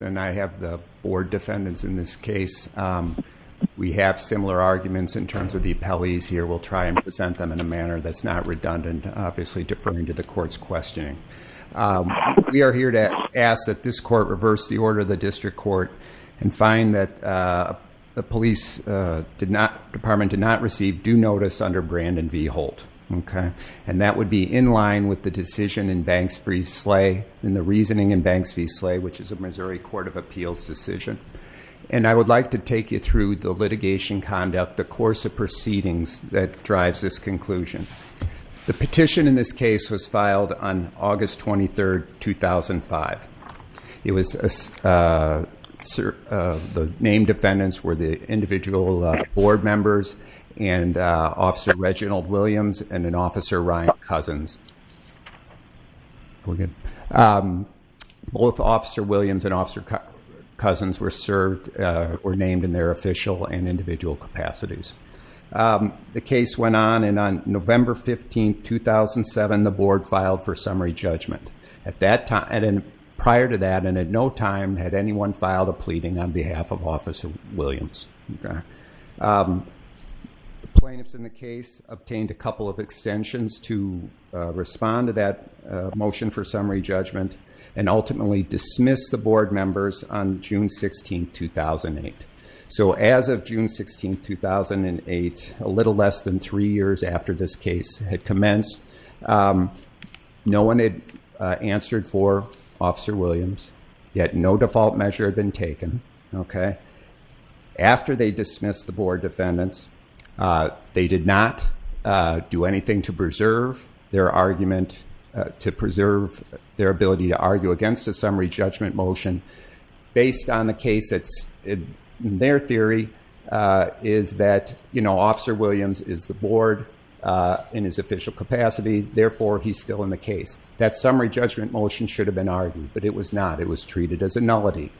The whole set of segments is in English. and I have the board defendants in this case. We have similar arguments in terms of the appellees here. We'll try and present them in a manner that's not redundant, obviously deferring to the court's questioning. We are here to ask that this court reverse the order of the district court and find that the police department did not receive due notice under Brandon v. Holt, okay? And that would be in line with the decision in Banks v. Slay and the reasoning in Banks v. Appeals decision. And I would like to take you through the litigation conduct, the course of proceedings that drives this conclusion. The petition in this case was filed on August 23, 2005. It was the named defendants were the individual board members and Officer Reginald Williams and Officer Ryan Cousins. Both Officer Williams and Officer Cousins were named in their official and individual capacities. The case went on and on November 15, 2007 the board filed for summary judgment. Prior to that and at no time had anyone filed a pleading on behalf of Officer Williams. So, we had a couple of extensions to respond to that motion for summary judgment and ultimately dismiss the board members on June 16, 2008. So, as of June 16, 2008, a little less than three years after this case had commenced, no one had answered for Officer Williams, yet no default measure had been taken, okay? After they dismissed the board defendants, they did not do anything to preserve their argument, to preserve their ability to argue against a summary judgment motion based on the case that's in their theory is that, you know, Officer Williams is the board in his official capacity, therefore he's still in the case. That summary judgment motion should have been argued, but it was not. It was treated as a nullity.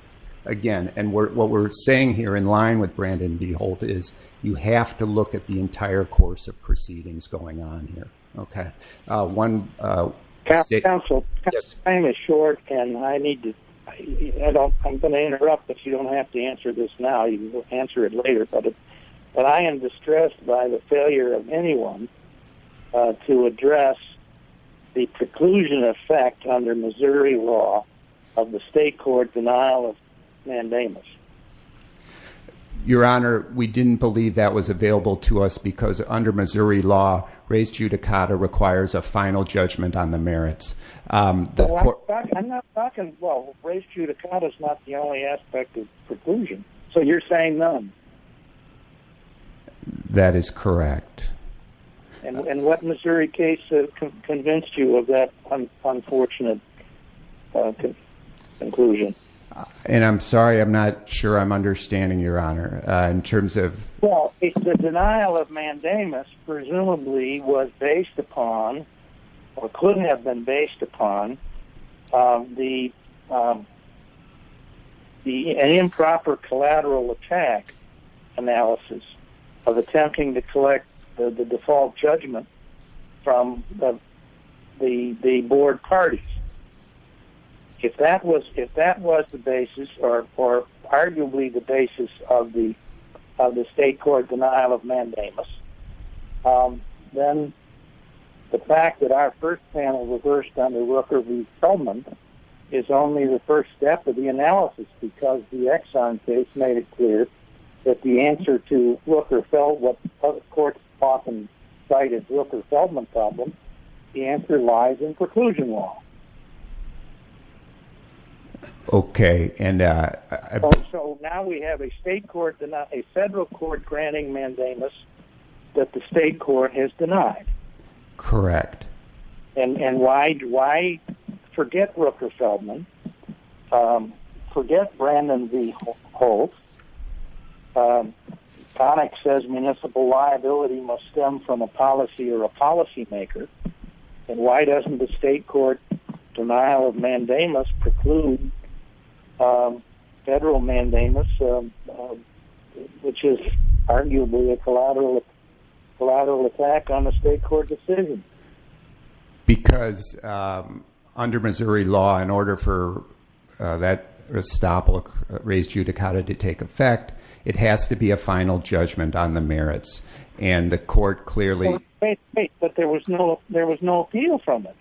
Again, and what we're saying here in line with Brandon V. Holt is, you have to look at the entire course of proceedings going on here, okay? One- Counsel, time is short and I need to, I don't, I'm going to interrupt if you don't have to answer this now, you can answer it later, but I am distressed by the failure of anyone to address the preclusion effect under Missouri law of the state court denial of mandamus. Your honor, we didn't believe that was available to us because under Missouri law, res judicata requires a final judgment on the merits. I'm not talking, well, res judicata is not the only aspect of preclusion, so you're saying none. That is correct. And what Missouri case convinced you of that unfortunate conclusion? And I'm sorry, I'm not sure I'm understanding your honor, in terms of- Well, if the denial of mandamus presumably was based upon, or couldn't have been based upon, the improper collateral attack analysis of attempting to collect the default judgment from the board parties, if that was the basis, or arguably the basis of the state court denial of mandamus, is only the first step of the analysis because the Exxon case made it clear that the answer to what the court often cited, the Wilker-Feldman problem, the answer lies in preclusion law. Okay. So now we have a state court, a federal court granting mandamus that the state court has forget Wilker-Feldman, forget Brandon V. Holtz, Connick says municipal liability must stem from a policy or a policymaker, and why doesn't the state court denial of mandamus preclude federal mandamus, which is arguably a collateral attack on the state court decision? Because under Missouri law, in order for that restaple raised judicata to take effect, it has to be a final judgment on the merits, and the court clearly- Wait, wait, but there was no appeal from it.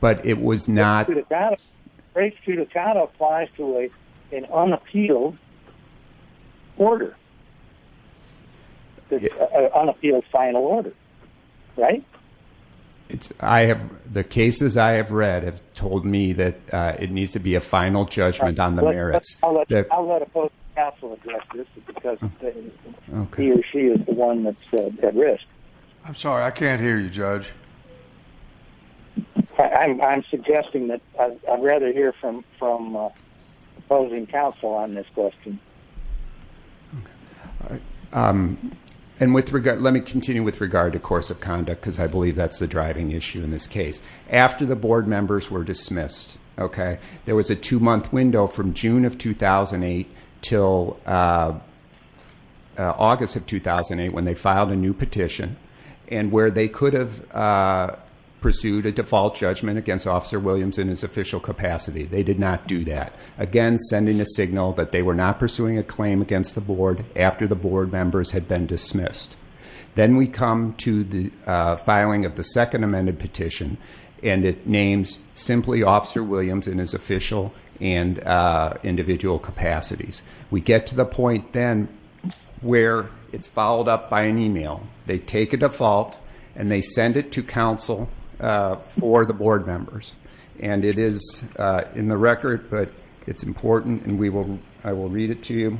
But it was not- Raised judicata applies to an unappealed final order. Right? The cases I have read have told me that it needs to be a final judgment on the merits. I'll let opposing counsel address this because he or she is the one that's at risk. I'm sorry, I can't hear you, Judge. I'm suggesting that I'd rather hear from opposing counsel on this question. Okay. Let me continue with regard to course of conduct because I believe that's the driving issue in this case. After the board members were dismissed, there was a two-month window from June of 2008 till August of 2008 when they filed a new petition, and where they could have pursued a default judgment against Officer Williams in his official capacity. They did not do that. Again, sending a signal that they were not pursuing a claim against the board after the board members had been dismissed. Then we come to the filing of the second amended petition, and it names simply Officer Williams in his official and individual capacities. We get to the point then where it's followed up by an email. They take a default, and they send it to counsel for the board members. It is in the record, but it's important, and I will read it to you.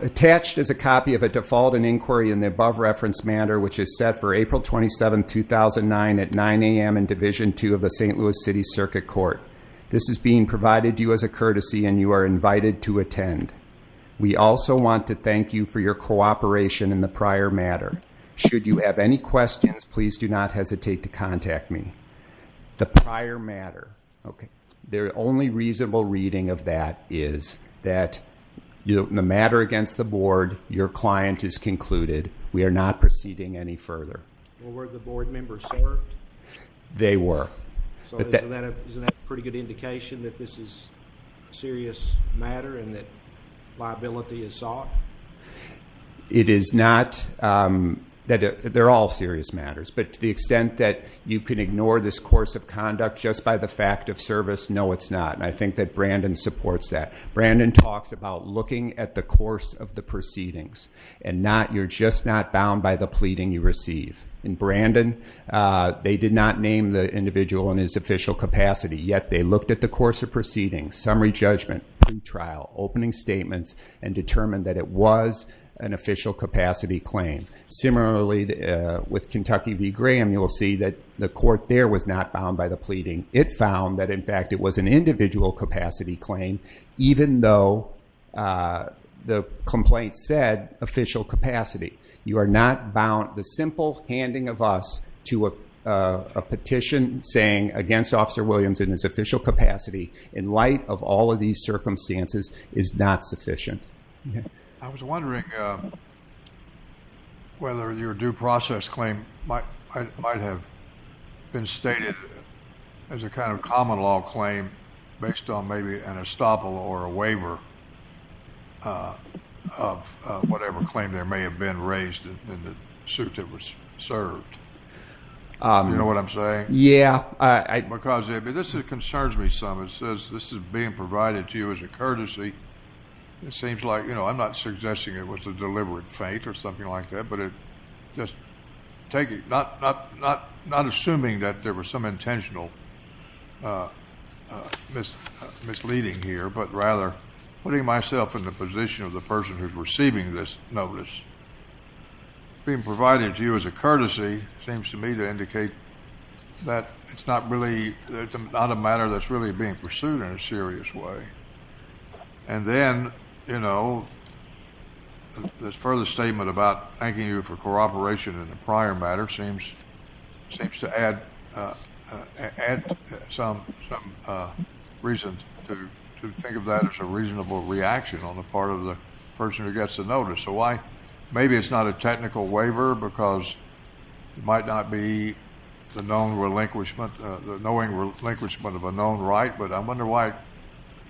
Attached is a copy of a default and inquiry in the above reference matter, which is set for April 27, 2009 at 9 a.m. in Division II of the St. Louis City Circuit Court. This is being provided to you as a courtesy, and you are invited to attend. We also want to thank you for your cooperation in the prior matter. Should you have any questions, please do not hesitate to contact me. The prior matter, the only reasonable reading of that is that the matter against the board, your client is concluded. We are not proceeding any further. Were the board members served? They were. Isn't that a pretty good indication that this is a serious matter and that liability is sought? It is not that they're all serious matters, but to the extent that you can ignore this course of conduct just by the fact of service, no, it's not, and I think that Brandon supports that. Brandon talks about looking at the course of the proceedings, and you're just not bound by the pleading you receive. In Brandon, they did not name the individual in his official capacity, yet they looked at the course of proceedings, summary judgment, pre-trial, opening statements, and determined that it was an official capacity claim. Similarly, with Kentucky v. Graham, you will see that the court there was not bound by the pleading. It found that, in fact, it was an individual capacity claim, even though the complaint said official capacity. You are not bound. The simple handing of us to a petition saying against Officer Williams in his official capacity in light of all of these circumstances is not sufficient. I was wondering whether your due process claim might have been stated as a kind of common law claim based on maybe an estoppel or a waiver of whatever claim there may have been raised in the suit that was served. You know what I'm saying? Yeah. Because this concerns me some. It says this is being provided to you as a courtesy. It seems like, you know, I'm not suggesting it was a deliberate feint or something like that, but just take it, not assuming that there was some intentional misleading here, but rather putting myself in the position of the person who's receiving this notice. Being provided to you as a courtesy seems to me to indicate that it's not a matter that's really being pursued in a serious way. And then, you know, the further statement about thanking you for cooperation in the prior matter seems to add some reason to think of that as a reasonable reaction on the part of the person who gets the notice. Maybe it's not a technical waiver because it might not be the knowing relinquishment of a known right, but I wonder why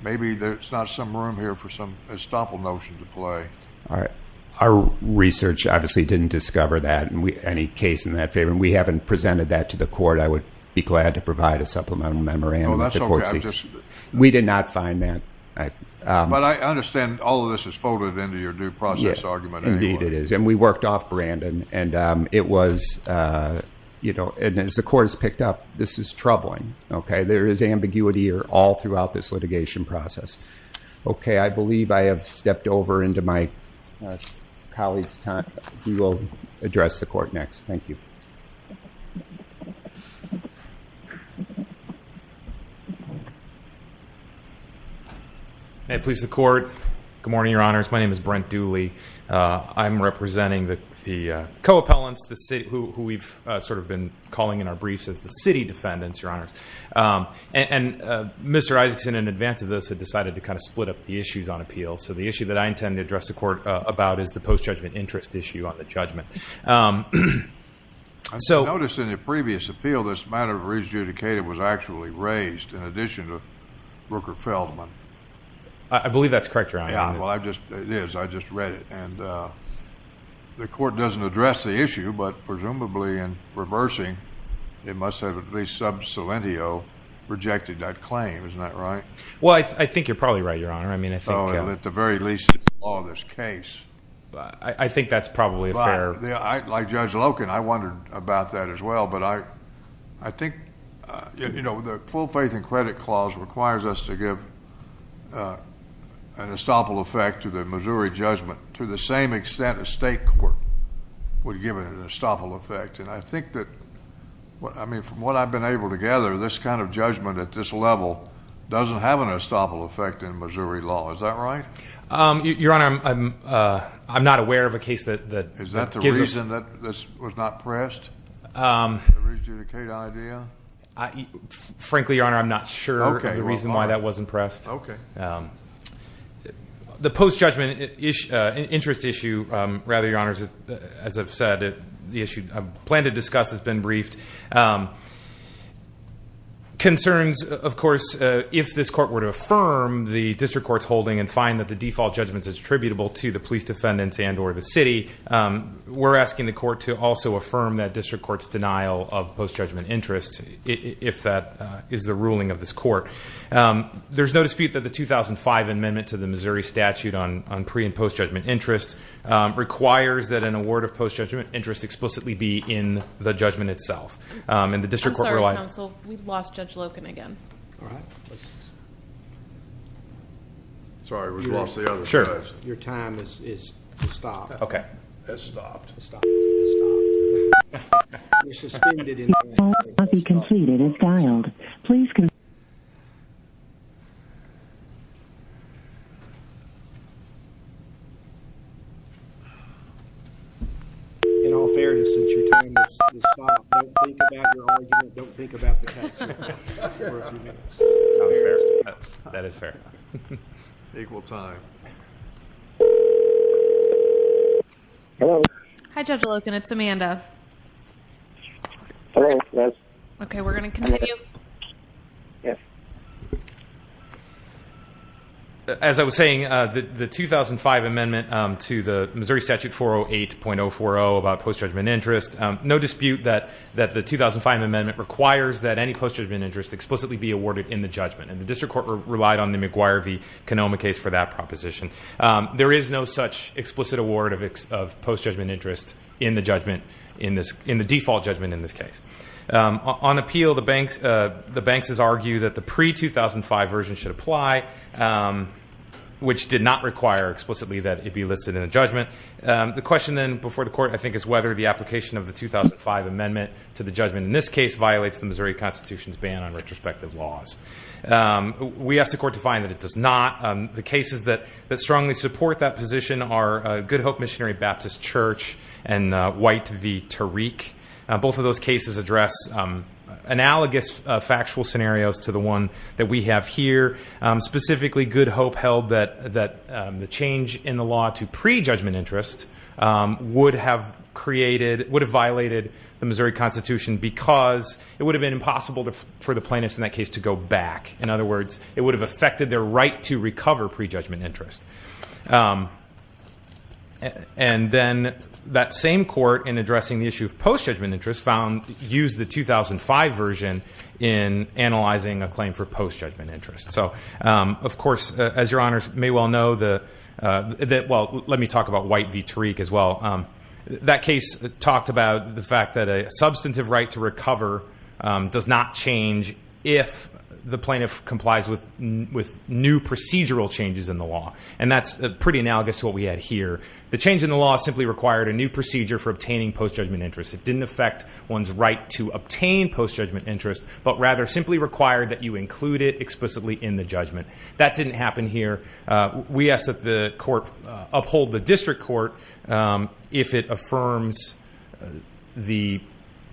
maybe there's not some room here for some estoppel notion to play. All right. Our research obviously didn't discover that, any case in that favor. And we haven't presented that to the court. I would be glad to provide a supplemental memorandum if the court sees it. We did not find that. But I understand all of this is folded into your due process argument. Indeed it is. And we worked off Brandon. And it was, you know, and as the court has picked up, this is troubling, okay? There is ambiguity all throughout this litigation process. Okay. I believe I have stepped over into my colleague's time. We will address the court next. Thank you. May it please the court. Good morning, your honors. My name is Brent Dooley. I'm representing the co-appellants who we've sort of been calling in our briefs as the city defendants, your honors. And Mr. Isaacson, in advance of this, had decided to kind of split up the issues on appeals. So the issue that I intend to address the court about is the post-judgment interest issue on the judgment. I noticed in the previous appeal, this matter of re-adjudicated was actually raised in addition to Rooker-Feldman. I believe that's correct, your honor. Yeah. Well, it is. I just read it. And the court doesn't address the issue. But presumably, in reversing, it must have at least sub silentio rejected that claim. Isn't that right? Well, I think you're probably right, your honor. I mean, I think. Oh, at the very least, it's the law of this case. I think that's probably a fair. Like Judge Loken, I wondered about that as well. But I think, you know, the full faith and credit clause requires us to give an estoppel effect to the Missouri judgment to the same extent a state court would give an estoppel effect. And I think that, I mean, from what I've been able to gather, this kind of judgment at this level doesn't have an estoppel effect in Missouri law. Is that right? Your honor, I'm not aware of a case that gives us. Is that the reason that this was not pressed? The re-adjudicate idea? Frankly, your honor, I'm not sure the reason why that wasn't pressed. Okay. The post-judgment interest issue, rather, your honor, as I've said, the issue I plan to discuss has been briefed. Concerns, of course, if this court were to affirm the district court's holding and find that the default judgment is attributable to the police defendants and or the city, we're asking the court to also affirm that district court's denial of post-judgment interest if that is the ruling of this court. There's no dispute that the 2005 amendment to the Missouri statute on pre- and post-judgment interest requires that an award of post-judgment interest explicitly be in the judgment itself. And the district court relied... I'm sorry, counsel. We've lost Judge Loken again. All right. Sorry, we've lost the other... Sure. Your time is stopped. Okay. It's stopped. It's stopped. It's stopped. You're suspended. Your call will be completed as dialed. Please... In all fairness, since your time has stopped, don't think about your argument. Don't think about the case for a few minutes. That is fair. Equal time. Hello. Hi, Judge Loken. It's Amanda. Okay, we're going to continue. Yes. As I was saying, the 2005 amendment to the Missouri statute 408.040 about post-judgment interest, no dispute that the 2005 amendment requires that any post-judgment interest explicitly be awarded in the judgment. And the district court relied on the McGuire v. Canoma case for that proposition. There is no such explicit award of post-judgment interest in the judgment, in the default judgment in this case. On appeal, the banks has argued that the pre-2005 version should apply, which did not require explicitly that it be listed in a judgment. The question then before the court, I think, is whether the application of the 2005 amendment to the judgment in this case violates the Missouri Constitution's ban on retrospective laws. We asked the court to find that it does not. The cases that strongly support that position are Good Hope Missionary Baptist Church and White v. Tariq. Both of those cases address analogous factual scenarios to the one that we have here. Specifically, Good Hope held that the change in the law to pre-judgment interest would have violated the Missouri Constitution because it would have been impossible for the plaintiffs in that case to go back. In other words, it would have affected their right to recover pre-judgment interest. And then that same court in addressing the issue of post-judgment interest found, used the 2005 version in analyzing a claim for post-judgment interest. So of course, as your honors may well know, well, let me talk about White v. Tariq as well. That case talked about the fact that a substantive right to recover does not change if the plaintiff complies with new procedural changes in the law. That's pretty analogous to what we had here. The change in the law simply required a new procedure for obtaining post-judgment interest. It didn't affect one's right to obtain post-judgment interest, but rather simply required that you include it explicitly in the judgment. That didn't happen here. We ask that the court uphold the district court if it affirms the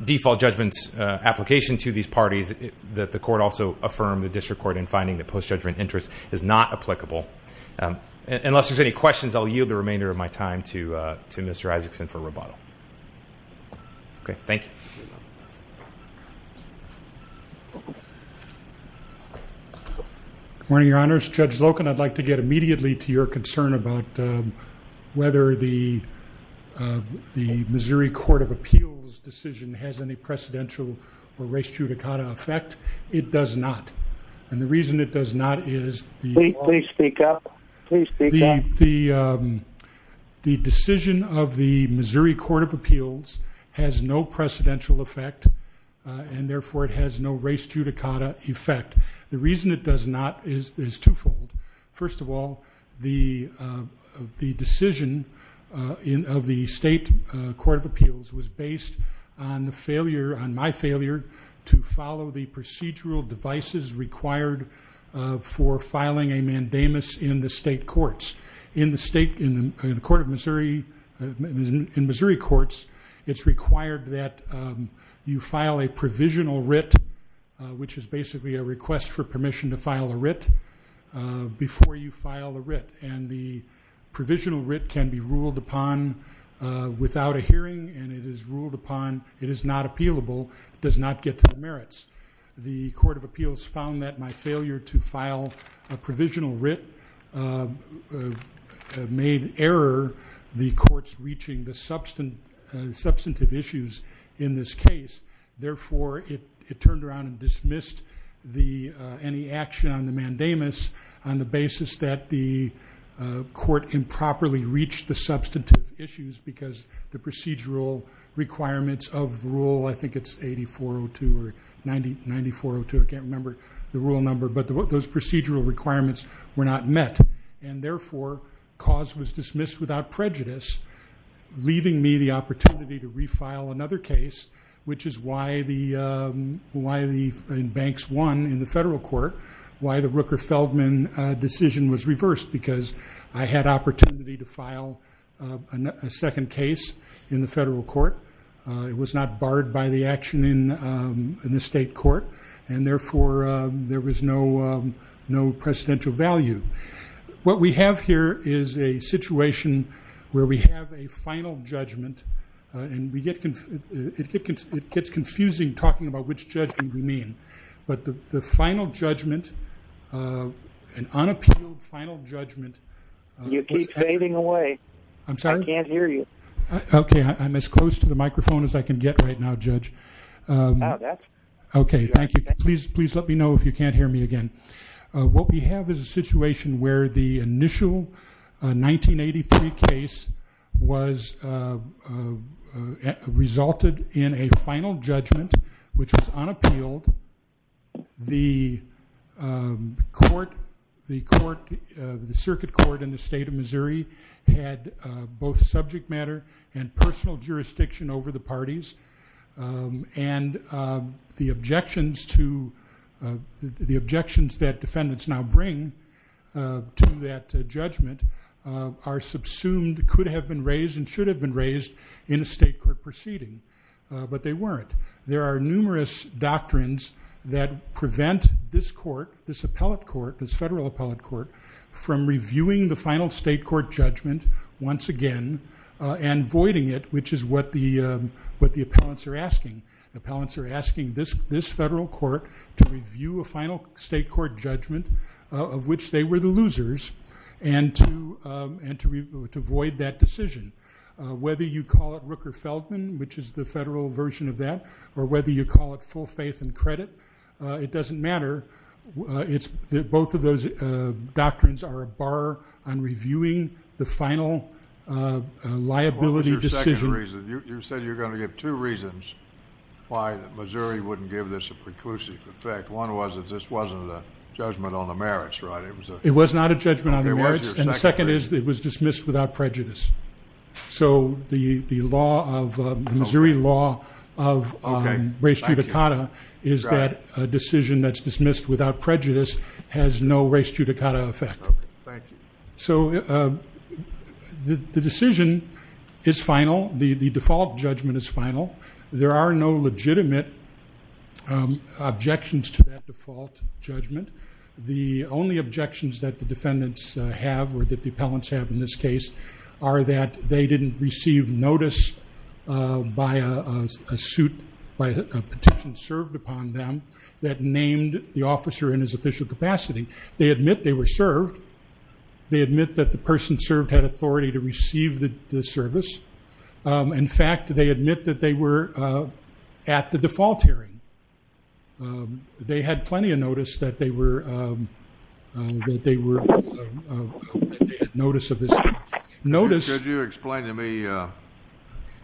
default judgment application to these parties, that the court also affirm the district court in finding that post-judgment interest is not applicable. Unless there's any questions, I'll yield the remainder of my time to Mr. Isaacson for rebuttal. Okay. Thank you. Good morning, your honors. Judge Loken, I'd like to get immediately to your concern about whether the Missouri Court of Appeals decision has any precedential or res judicata effect. It does not. And the reason it does not is the law. Please speak up. Please speak up. The decision of the Missouri Court of Appeals has no precedential effect, and therefore it has no res judicata effect. The reason it does not is twofold. First of all, the decision of the state court of appeals was based on my failure to follow the procedural devices required for filing a mandamus in the state courts. In the state, in the court of Missouri, in Missouri courts, it's required that you file a provisional writ, which is basically a request for permission to file a writ, before you file a writ. And the provisional writ can be ruled upon without a hearing, and it is ruled upon, it is not appealable, it does not get to the merits. The court of appeals found that my failure to file a provisional writ made error the courts reaching the substantive issues in this case. Therefore, it turned around and dismissed any action on the mandamus, on the basis that the court improperly reached the substantive issues, because the procedural requirements of rule, I think it's 8402 or 9402, I can't remember the rule number, but those procedural requirements were not met. And therefore, cause was dismissed without prejudice, leaving me the opportunity to refile another case, which is why the banks won in the federal court, why the Rooker-Feldman decision was reversed, because I had opportunity to file a second case in the federal court, it was not barred by the action in the state court, and therefore, there was no presidential value. What we have here is a situation where we have a final judgment, and it gets confusing talking about which judgment we mean, but the final judgment, an unappealed final judgment. You keep fading away. I'm sorry? I can't hear you. Okay, I'm as close to the microphone as I can get right now, Judge. Okay, thank you. Please let me know if you can't hear me again. What we have is a situation where the initial 1983 case resulted in a final judgment, which was unappealed, the court, the circuit court in the state of Missouri had both subject matter and personal jurisdiction over the parties, and the objections that defendants now bring to that judgment are subsumed, could have been raised, and should have been raised in a state court proceeding, but they weren't. There are numerous doctrines that prevent this court, this appellate court, this federal appellate court from reviewing the final state court judgment once again and voiding it, which is what the appellants are asking. Appellants are asking this federal court to review a final state court judgment, of which they were the losers, and to void that decision. Whether you call it Rooker-Feldman, which is the federal version of that, or whether you call it full faith and credit, it doesn't matter. Both of those doctrines are a bar on reviewing the final liability decision. What was your second reason? You said you were going to give two reasons why Missouri wouldn't give this a preclusive effect. One was that this wasn't a judgment on the merits, right? It was not a judgment on the merits, and the second is it was dismissed without prejudice. So the Missouri law of res judicata is that a decision that's dismissed without prejudice has no res judicata effect. So the decision is final. The default judgment is final. There are no legitimate objections to that default judgment. The only objections that the defendants have, or that the appellants have in this case, are that they didn't receive notice by a petition served upon them that named the officer in his official capacity. They admit they were served. They admit that the person served had authority to receive the service. In fact, they admit that they were at the default hearing. And they had plenty of notice that they had notice of this. Could you explain to me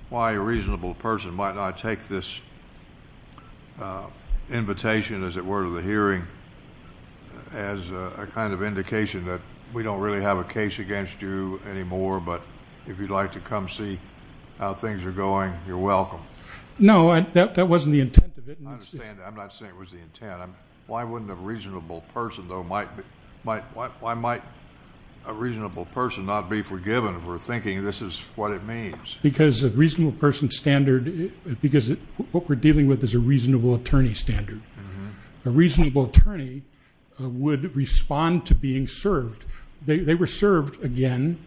why a reasonable person might not take this invitation, as it were, to the hearing as a kind of indication that we don't really have a case against you anymore, but if you'd like to come see how things are going, you're welcome? No, that wasn't the intent of it. I'm not saying it was the intent. Why wouldn't a reasonable person, though, why might a reasonable person not be forgiven for thinking this is what it means? Because a reasonable person standard, because what we're dealing with is a reasonable attorney standard. A reasonable attorney would respond to being served. They were served again.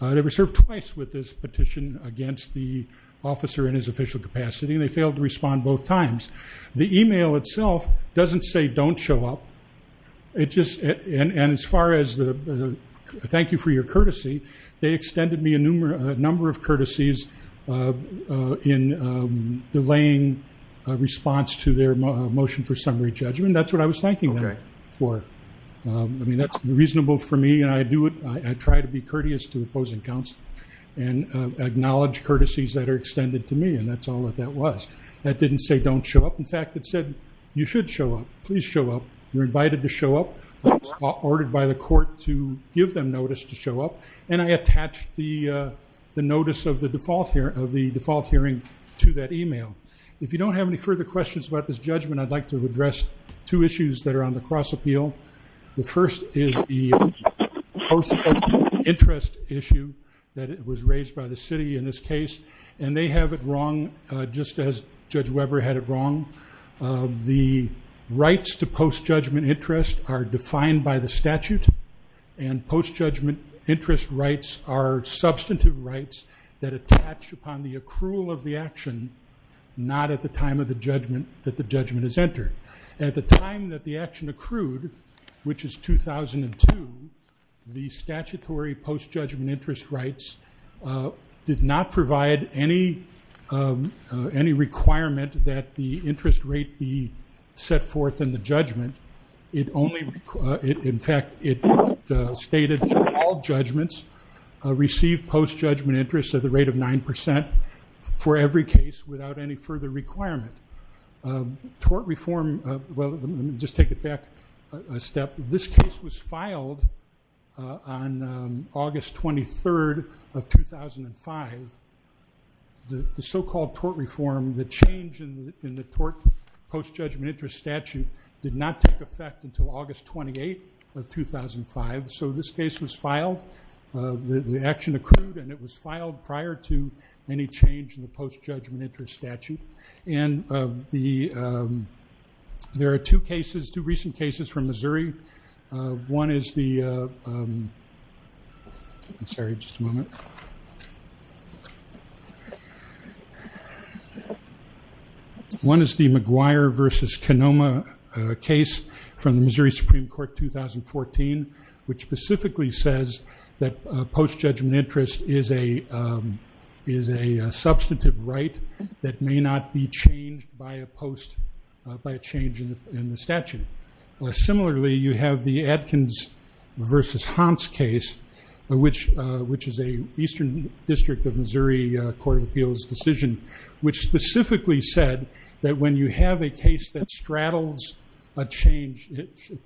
They were served twice with this petition against the officer in his official capacity. They failed to respond both times. The email itself doesn't say don't show up. And as far as the thank you for your courtesy, they extended me a number of courtesies in delaying a response to their motion for summary judgment. That's what I was thanking them for. I mean, that's reasonable for me. And I try to be courteous to opposing counsel and acknowledge courtesies that are extended to me. And that's all that that was. That didn't say don't show up. In fact, it said you should show up. Please show up. You're invited to show up. I was ordered by the court to give them notice to show up. And I attached the notice of the default hearing to that email. If you don't have any further questions about this judgment, I'd like to address two issues that are on the cross appeal. The first is the interest issue that was raised by the city in this case. And they have it wrong, just as Judge Weber had it wrong. The rights to post-judgment interest are defined by the statute. And post-judgment interest rights are substantive rights that attach upon the accrual of the action, not at the time that the judgment is entered. At the time that the action accrued, which is 2002, the statutory post-judgment interest rights did not provide any requirement that the interest rate be set forth in the judgment. In fact, it stated all judgments receive post-judgment interest at the rate of 9% for every case without any further requirement. Tort reform, well, let me just take it back a step. This case was filed on August 23rd of 2005. The so-called tort reform, the change in the post-judgment interest statute did not take effect until August 28th of 2005. So this case was filed. The action accrued. And it was filed prior to any change in the post-judgment interest statute. And there are two cases, two recent cases from Missouri. One is the, I'm sorry, just a moment. One is the McGuire versus Kenoma case from the Missouri Supreme Court 2014, which specifically says that post-judgment interest is a substantive right that may not be changed by a change in the statute. Similarly, you have the Adkins versus Hans case, which is an Eastern District of Missouri Court of Appeals decision, which specifically said that when you have a case that straddles a change,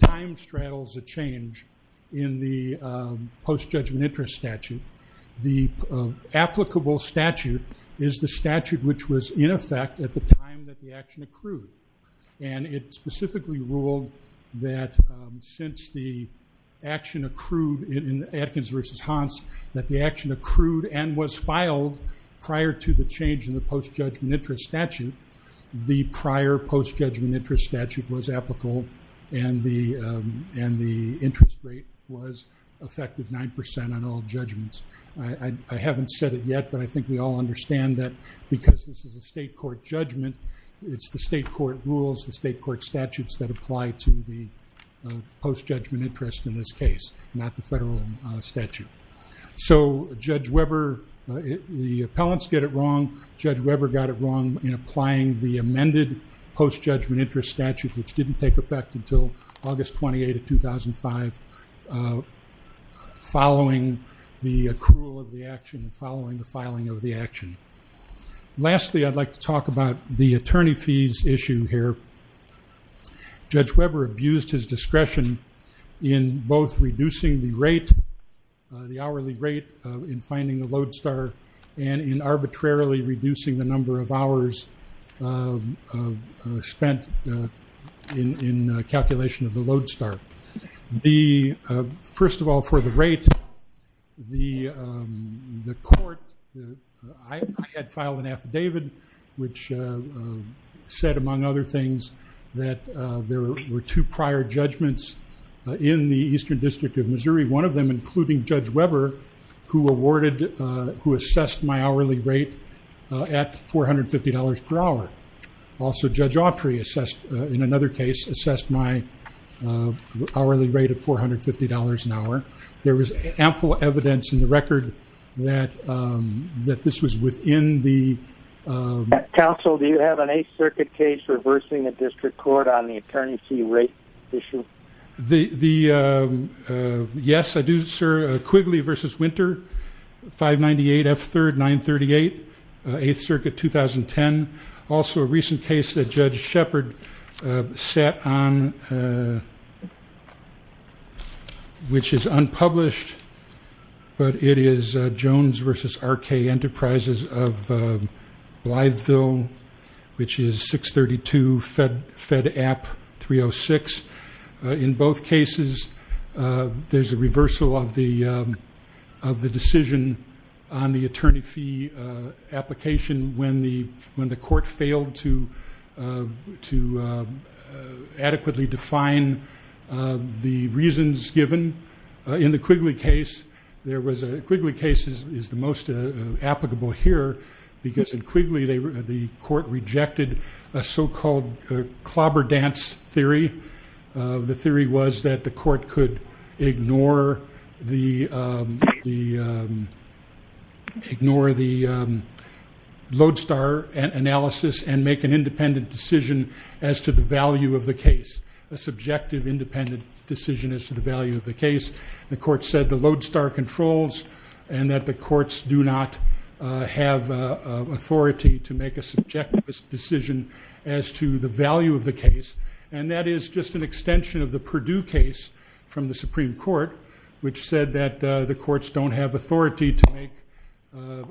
time straddles a change in the post-judgment interest statute, the applicable statute is the statute which was in effect at the time that the action accrued. And it specifically ruled that since the action accrued in Adkins versus Hans, that the action accrued and was filed prior to the change in the post-judgment interest statute, the prior post-judgment interest statute was applicable. And the interest rate was effective 9% on all judgments. I haven't said it yet, but I think we all understand that because this is a state court judgment, it's the state court rules, the state court statutes that apply to the post-judgment interest in this case, not the federal statute. So Judge Weber, the appellants get it wrong. Judge Weber got it wrong in applying the amended post-judgment interest statute, which didn't take effect until August 28 of 2005, following the accrual of the action, following the filing of the action. Lastly, I'd like to talk about the attorney fees issue here. Judge Weber abused his discretion in both reducing the rate, the hourly rate in finding the lodestar, and in arbitrarily reducing the number of hours spent in calculation of the lodestar. First of all, for the rate, the court, I had filed an affidavit which said, among other things, that there were two prior judgments in the Eastern District of Missouri, one of them including Judge Weber, who assessed my hourly rate at $450 per hour. Also, Judge Autry, in another case, assessed my hourly rate at $450 an hour. There was ample evidence in the record that this was within the- Counsel, do you have an Eighth Circuit case reversing the district court on the attorney fee rate issue? The, yes, I do, sir. Quigley v. Winter, 598 F3rd 938, 8th Circuit, 2010. Also, a recent case that Judge Shepard sat on, which is unpublished, but it is Jones v. RK Enterprises of Blytheville, which is 632 Fed App 306. In both cases, there's a reversal of the decision on the attorney fee application when the court failed to adequately define the reasons given. In the Quigley case, there was a- Court rejected a so-called clobber dance theory. The theory was that the court could ignore the load star analysis and make an independent decision as to the value of the case, a subjective independent decision as to the value of the case. The court said the load star controls and that the courts do not have authority to make a subjective decision as to the value of the case. And that is just an extension of the Purdue case from the Supreme Court, which said that the courts don't have authority to make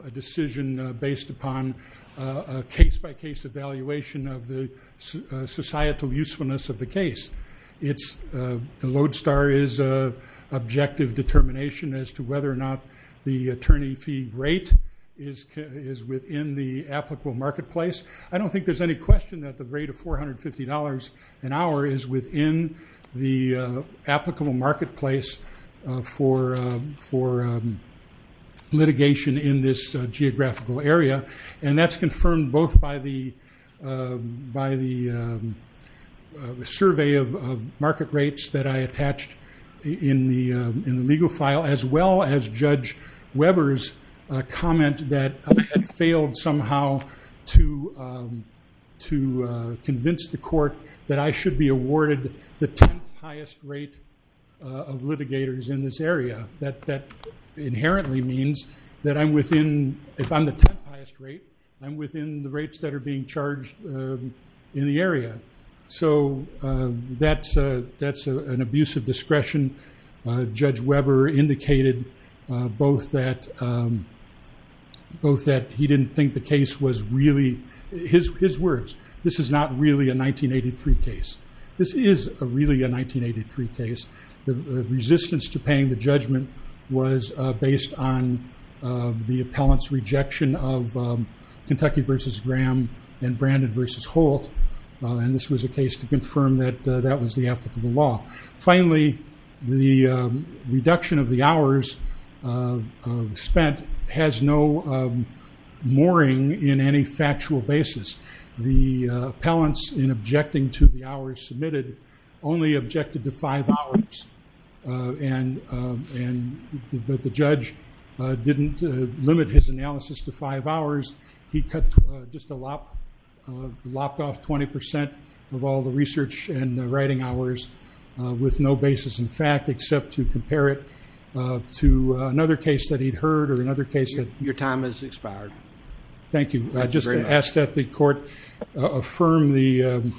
a decision based upon a case-by-case evaluation of the societal usefulness of the case. It's- The load star is an objective determination as to whether or not the attorney fee rate is within the applicable marketplace. I don't think there's any question that the rate of $450 an hour is within the applicable marketplace for litigation in this geographical area. And that's confirmed both by the survey of market rates that I attached in the legal file, as well as Judge Weber's comment that I had failed somehow to convince the court that I should be awarded the 10th highest rate of litigators in this area. That inherently means that I'm within- If I'm the 10th highest rate, I'm within the rates that are being charged in the area. So that's an abuse of discretion. Judge Weber indicated both that he didn't think the case was really- His words, this is not really a 1983 case. This is really a 1983 case. The resistance to paying the judgment was based on the appellant's rejection of Kentucky v. Graham and Brandon v. Holt. And this was a case to confirm that that was the applicable law. Finally, the reduction of the hours spent has no mooring in any factual basis. The appellants in objecting to the hours submitted only objected to five hours, but the judge didn't limit his analysis to five hours. He cut just a lot, lopped off 20% of all the research and writing hours with no basis in fact, except to compare it to another case that he'd heard or another case that- Your time has expired. Thank you. Just to ask that the court affirm the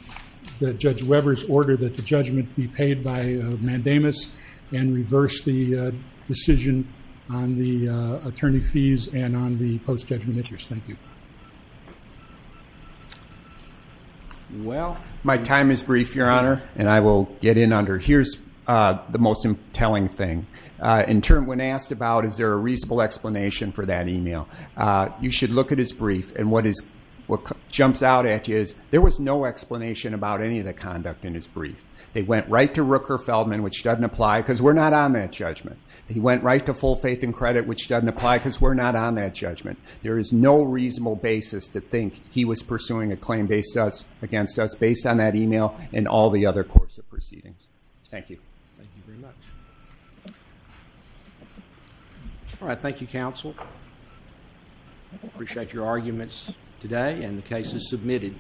Judge Weber's order that the judgment be paid by Mandamus and reverse the decision on the attorney fees and on the post-judgment interest. Thank you. Well, my time is brief, Your Honor, and I will get in under- Here's the most telling thing. In turn, when asked about is there a reasonable explanation for that email, you should look at his brief. And what jumps out at you is there was no explanation about any of the conduct in his brief. They went right to Rooker Feldman, which doesn't apply because we're not on that judgment. He went right to Full Faith and Credit, which doesn't apply because we're not on that judgment. There is no reasonable basis to think he was pursuing a claim against us based on that email and all the other courts of proceedings. Thank you. Thank you very much. All right. Thank you, counsel. Appreciate your arguments today and the cases submitted.